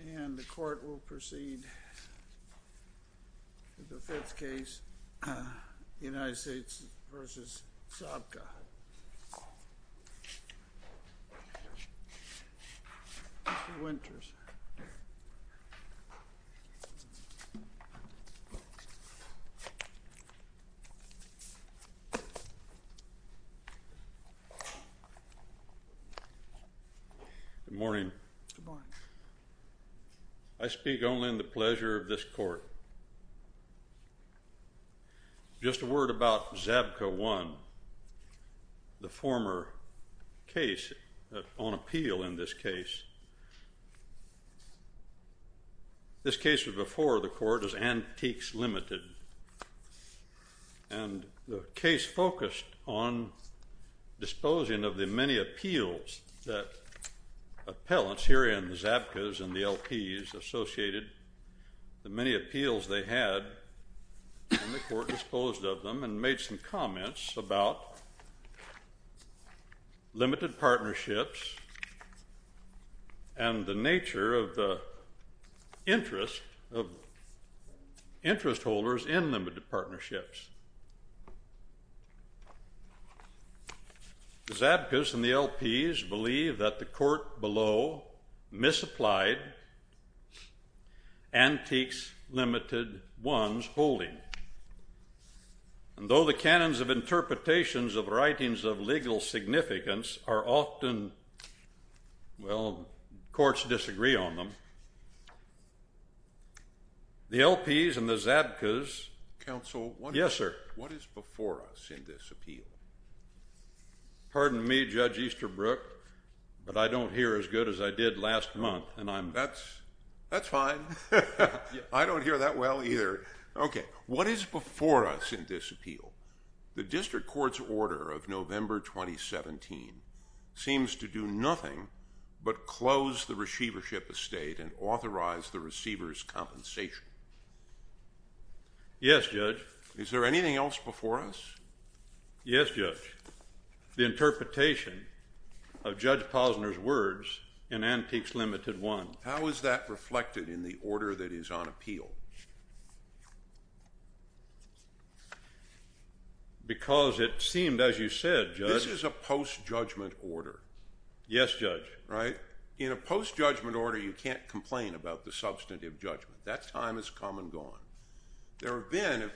And the court will proceed to the fifth case, United States v. Zabka, Mr. Winters. Good morning. I speak only in the pleasure of this court. Just a word about Zabka 1, the former case on appeal in this case. This case was before the court as Antiques Limited, and the case focused on disposing of the many appeals that appellants here in the Zabkas and the LPs associated, the many appeals they had, and the court disposed of them and made some limited partnerships and the nature of the interest holders in limited partnerships. The Zabkas and the LPs believe that the court below misapplied Antiques Limited 1's holding, and though the canons of interpretations of writings of legal significance are often, well, courts disagree on them, the LPs and the Zabkas... Counsel, what is before us in this appeal? Pardon me, Judge Easterbrook, but I don't hear as good as I did last month, and I'm... That's fine. I don't hear that well either. Okay, what is before us in this appeal? The district court's order of November 2017 seems to do nothing but close the receivership estate and authorize the receiver's compensation. Yes, Judge. Is there anything else before us? Yes, Judge. The interpretation of Judge Posner's words in Antiques Limited 1. How is that reflected in the order that is on appeal? Because it seemed, as you said, Judge... This is a post-judgment order. Yes, Judge. Right? In a post-judgment order, you can't complain about the substantive judgment. That time has come and gone. There have been...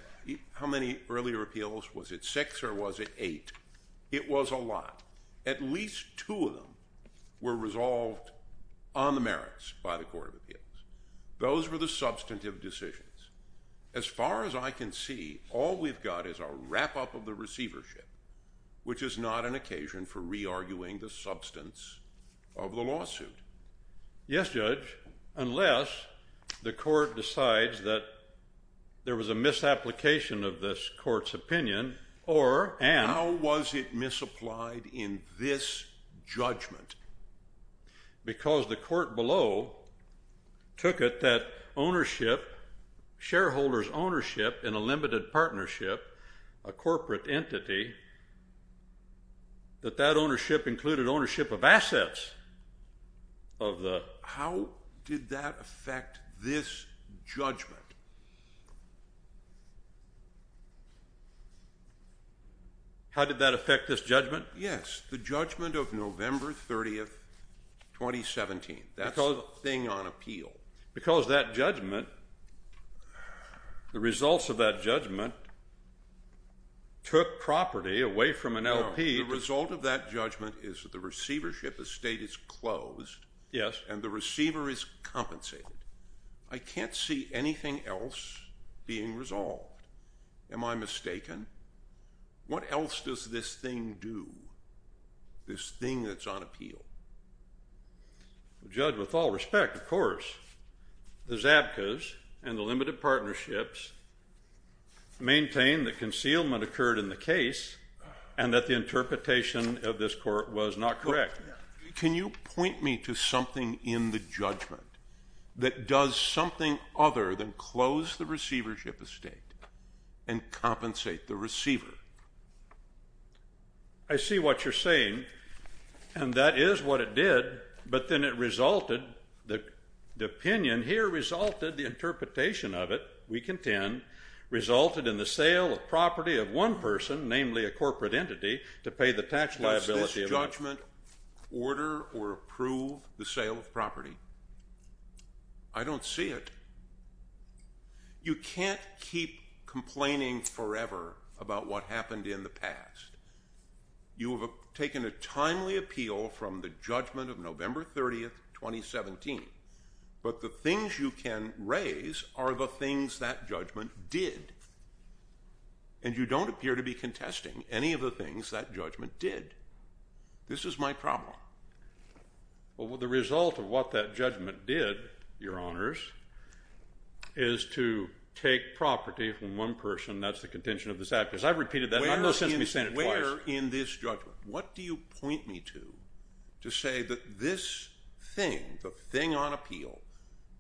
How many earlier appeals? Was it six or was it eight? It was a lot. At least two of them were resolved on the merits by the Court of Appeals. Those were the substantive decisions. As far as I can see, all we've got is a wrap-up of the receivership, which is not an occasion for re-arguing the substance of the lawsuit. Yes, Judge, unless the Court decides that there was a misapplication of this Court's opinion or... How was it misapplied in this judgment? Because the court below took it that ownership, shareholders' ownership in a limited partnership, a corporate entity, that that ownership included ownership of assets of the... How did that affect this judgment? Yes, the judgment of November 30th, 2017. That's the thing on appeal. Because that judgment, the results of that judgment, took property away from an LP... No, the result of that judgment is that the receivership estate is closed and the receiver is compensated. I can't see anything else being resolved. Am I mistaken? What else does this thing do, this thing that's on appeal? Judge, with all respect, of course, the Zabkas and the limited partnerships maintain that concealment occurred in the case and that the interpretation of this court was not correct. Can you point me to something in the judgment that does something other than close the receivership estate and compensate the receiver? I see what you're saying, and that is what it did, but then it resulted, the opinion here resulted, the interpretation of it, we contend, resulted in the sale of property of one person, namely a corporate entity, to pay the tax liability of... order or approve the sale of property. I don't see it. You can't keep complaining forever about what happened in the past. You have taken a timely appeal from the judgment of November 30th, 2017, but the things you can raise are the things that judgment did. And you don't appear to be contesting any of the things that judgment did. This is my problem. Well, the result of what that judgment did, Your Honors, is to take property from one person. That's the contention of the Zabkas. I've repeated that, and I've no sense of me saying it twice. Where in this judgment, what do you point me to to say that this thing, the thing on appeal,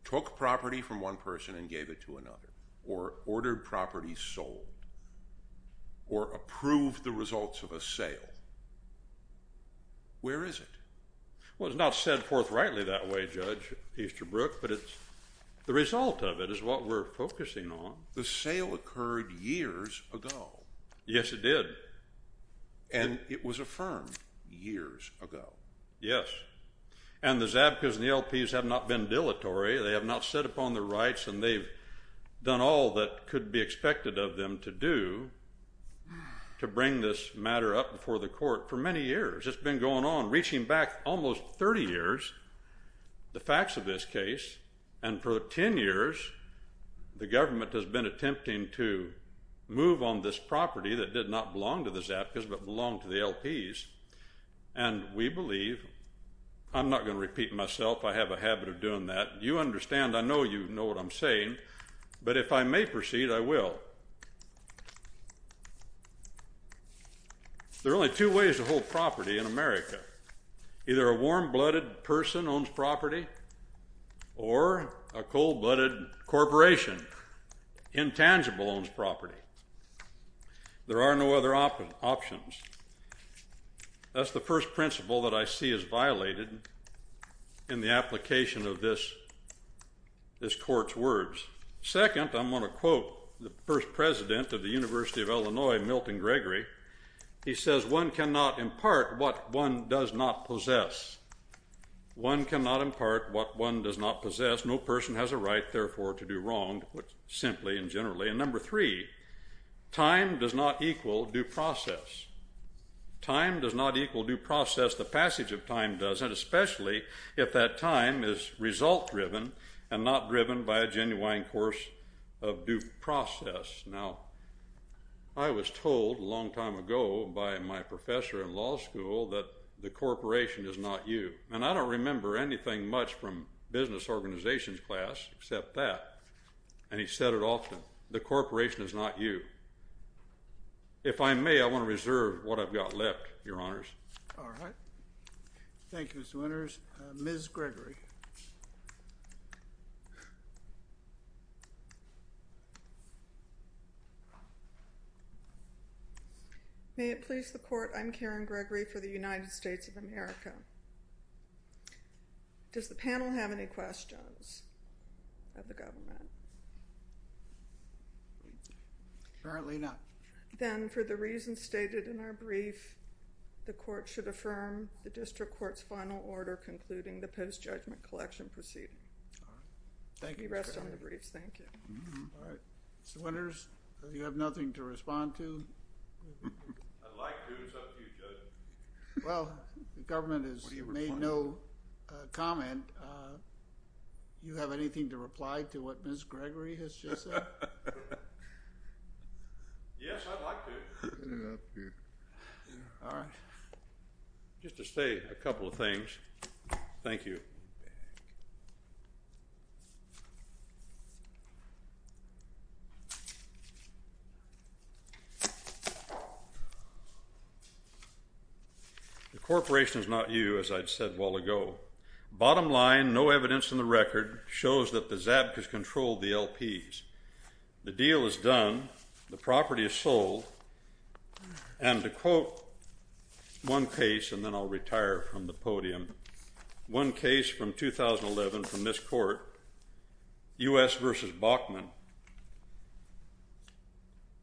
took property from one person and gave it to another or ordered property sold or approved the results of a sale? Where is it? Well, it's not said forthrightly that way, Judge Easterbrook, but the result of it is what we're focusing on. The sale occurred years ago. Yes, it did. And it was affirmed years ago. Yes. And the Zabkas and the LPs have not been dilatory. They have not set upon their rights, and they've done all that could be expected of them to do to bring this matter up before the court for many years. It's been going on, reaching back almost 30 years, the facts of this case. And for 10 years, the government has been attempting to move on this property that did not belong to the Zabkas but belonged to the LPs. And we believe, I'm not going to repeat myself. I have a habit of doing that. You understand. I know you know what I'm saying. But if I may proceed, I will. There are only two ways to hold property in America. Either a warm-blooded person owns property or a cold-blooded corporation, intangible, owns property. There are no other options. That's the first principle that I see as violated in the application of this court's words. Second, I'm going to quote the first president of the University of Illinois, Milton Gregory. He says, one cannot impart what one does not possess. One cannot impart what one does not possess. No person has a right, therefore, to do wrong, simply and generally. And number three, time does not equal due process. Time does not equal due process. The passage of time does, and especially if that time is result-driven and not driven by a genuine course of due process. Now, I was told a long time ago by my professor in law school that the corporation is not you. And I don't remember anything much from business organizations class except that. And he said it often. The corporation is not you. If I may, I want to reserve what I've got left, Your Honors. All right. Thank you, Mr. Winters. Ms. Gregory. May it please the court, I'm Karen Gregory for the United States of America. Does the panel have any questions of the government? Apparently not. Then, for the reasons stated in our brief, the court should affirm the district court's final order concluding the post-judgment collection proceeding. All right. Thank you, Ms. Gregory. You rest on the briefs. Thank you. All right. Mr. Winters, you have nothing to respond to? I'd like to. It's up to you, Judge. Well, the government has made no comment. Do you have anything to reply to what Ms. Gregory has just said? Yes, I'd like to. All right. Just to say a couple of things. Thank you. The corporation is not you, as I'd said well ago. Bottom line, no evidence in the record shows that the Zabkas controlled the LPs. The deal is done. The property is sold. And to quote one case, and then I'll retire from the podium, one case from 2011 from this court, U.S. versus Bachman,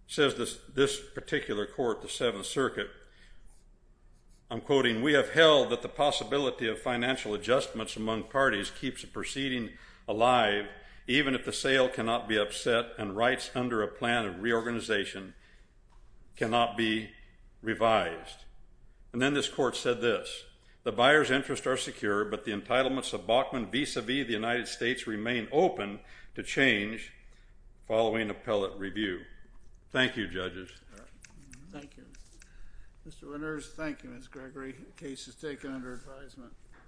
says this particular court, the Seventh Circuit, I'm quoting, we have held that the possibility of financial adjustments among parties keeps the proceeding alive, even if the sale cannot be upset and rights under a plan of reorganization cannot be revised. And then this court said this, the buyer's interests are secure, but the entitlements of Bachman vis-a-vis the United States remain open to change following appellate review. Thank you, judges. Thank you. Mr. Winters, thank you, Ms. Gregory. The case is taken under advisement.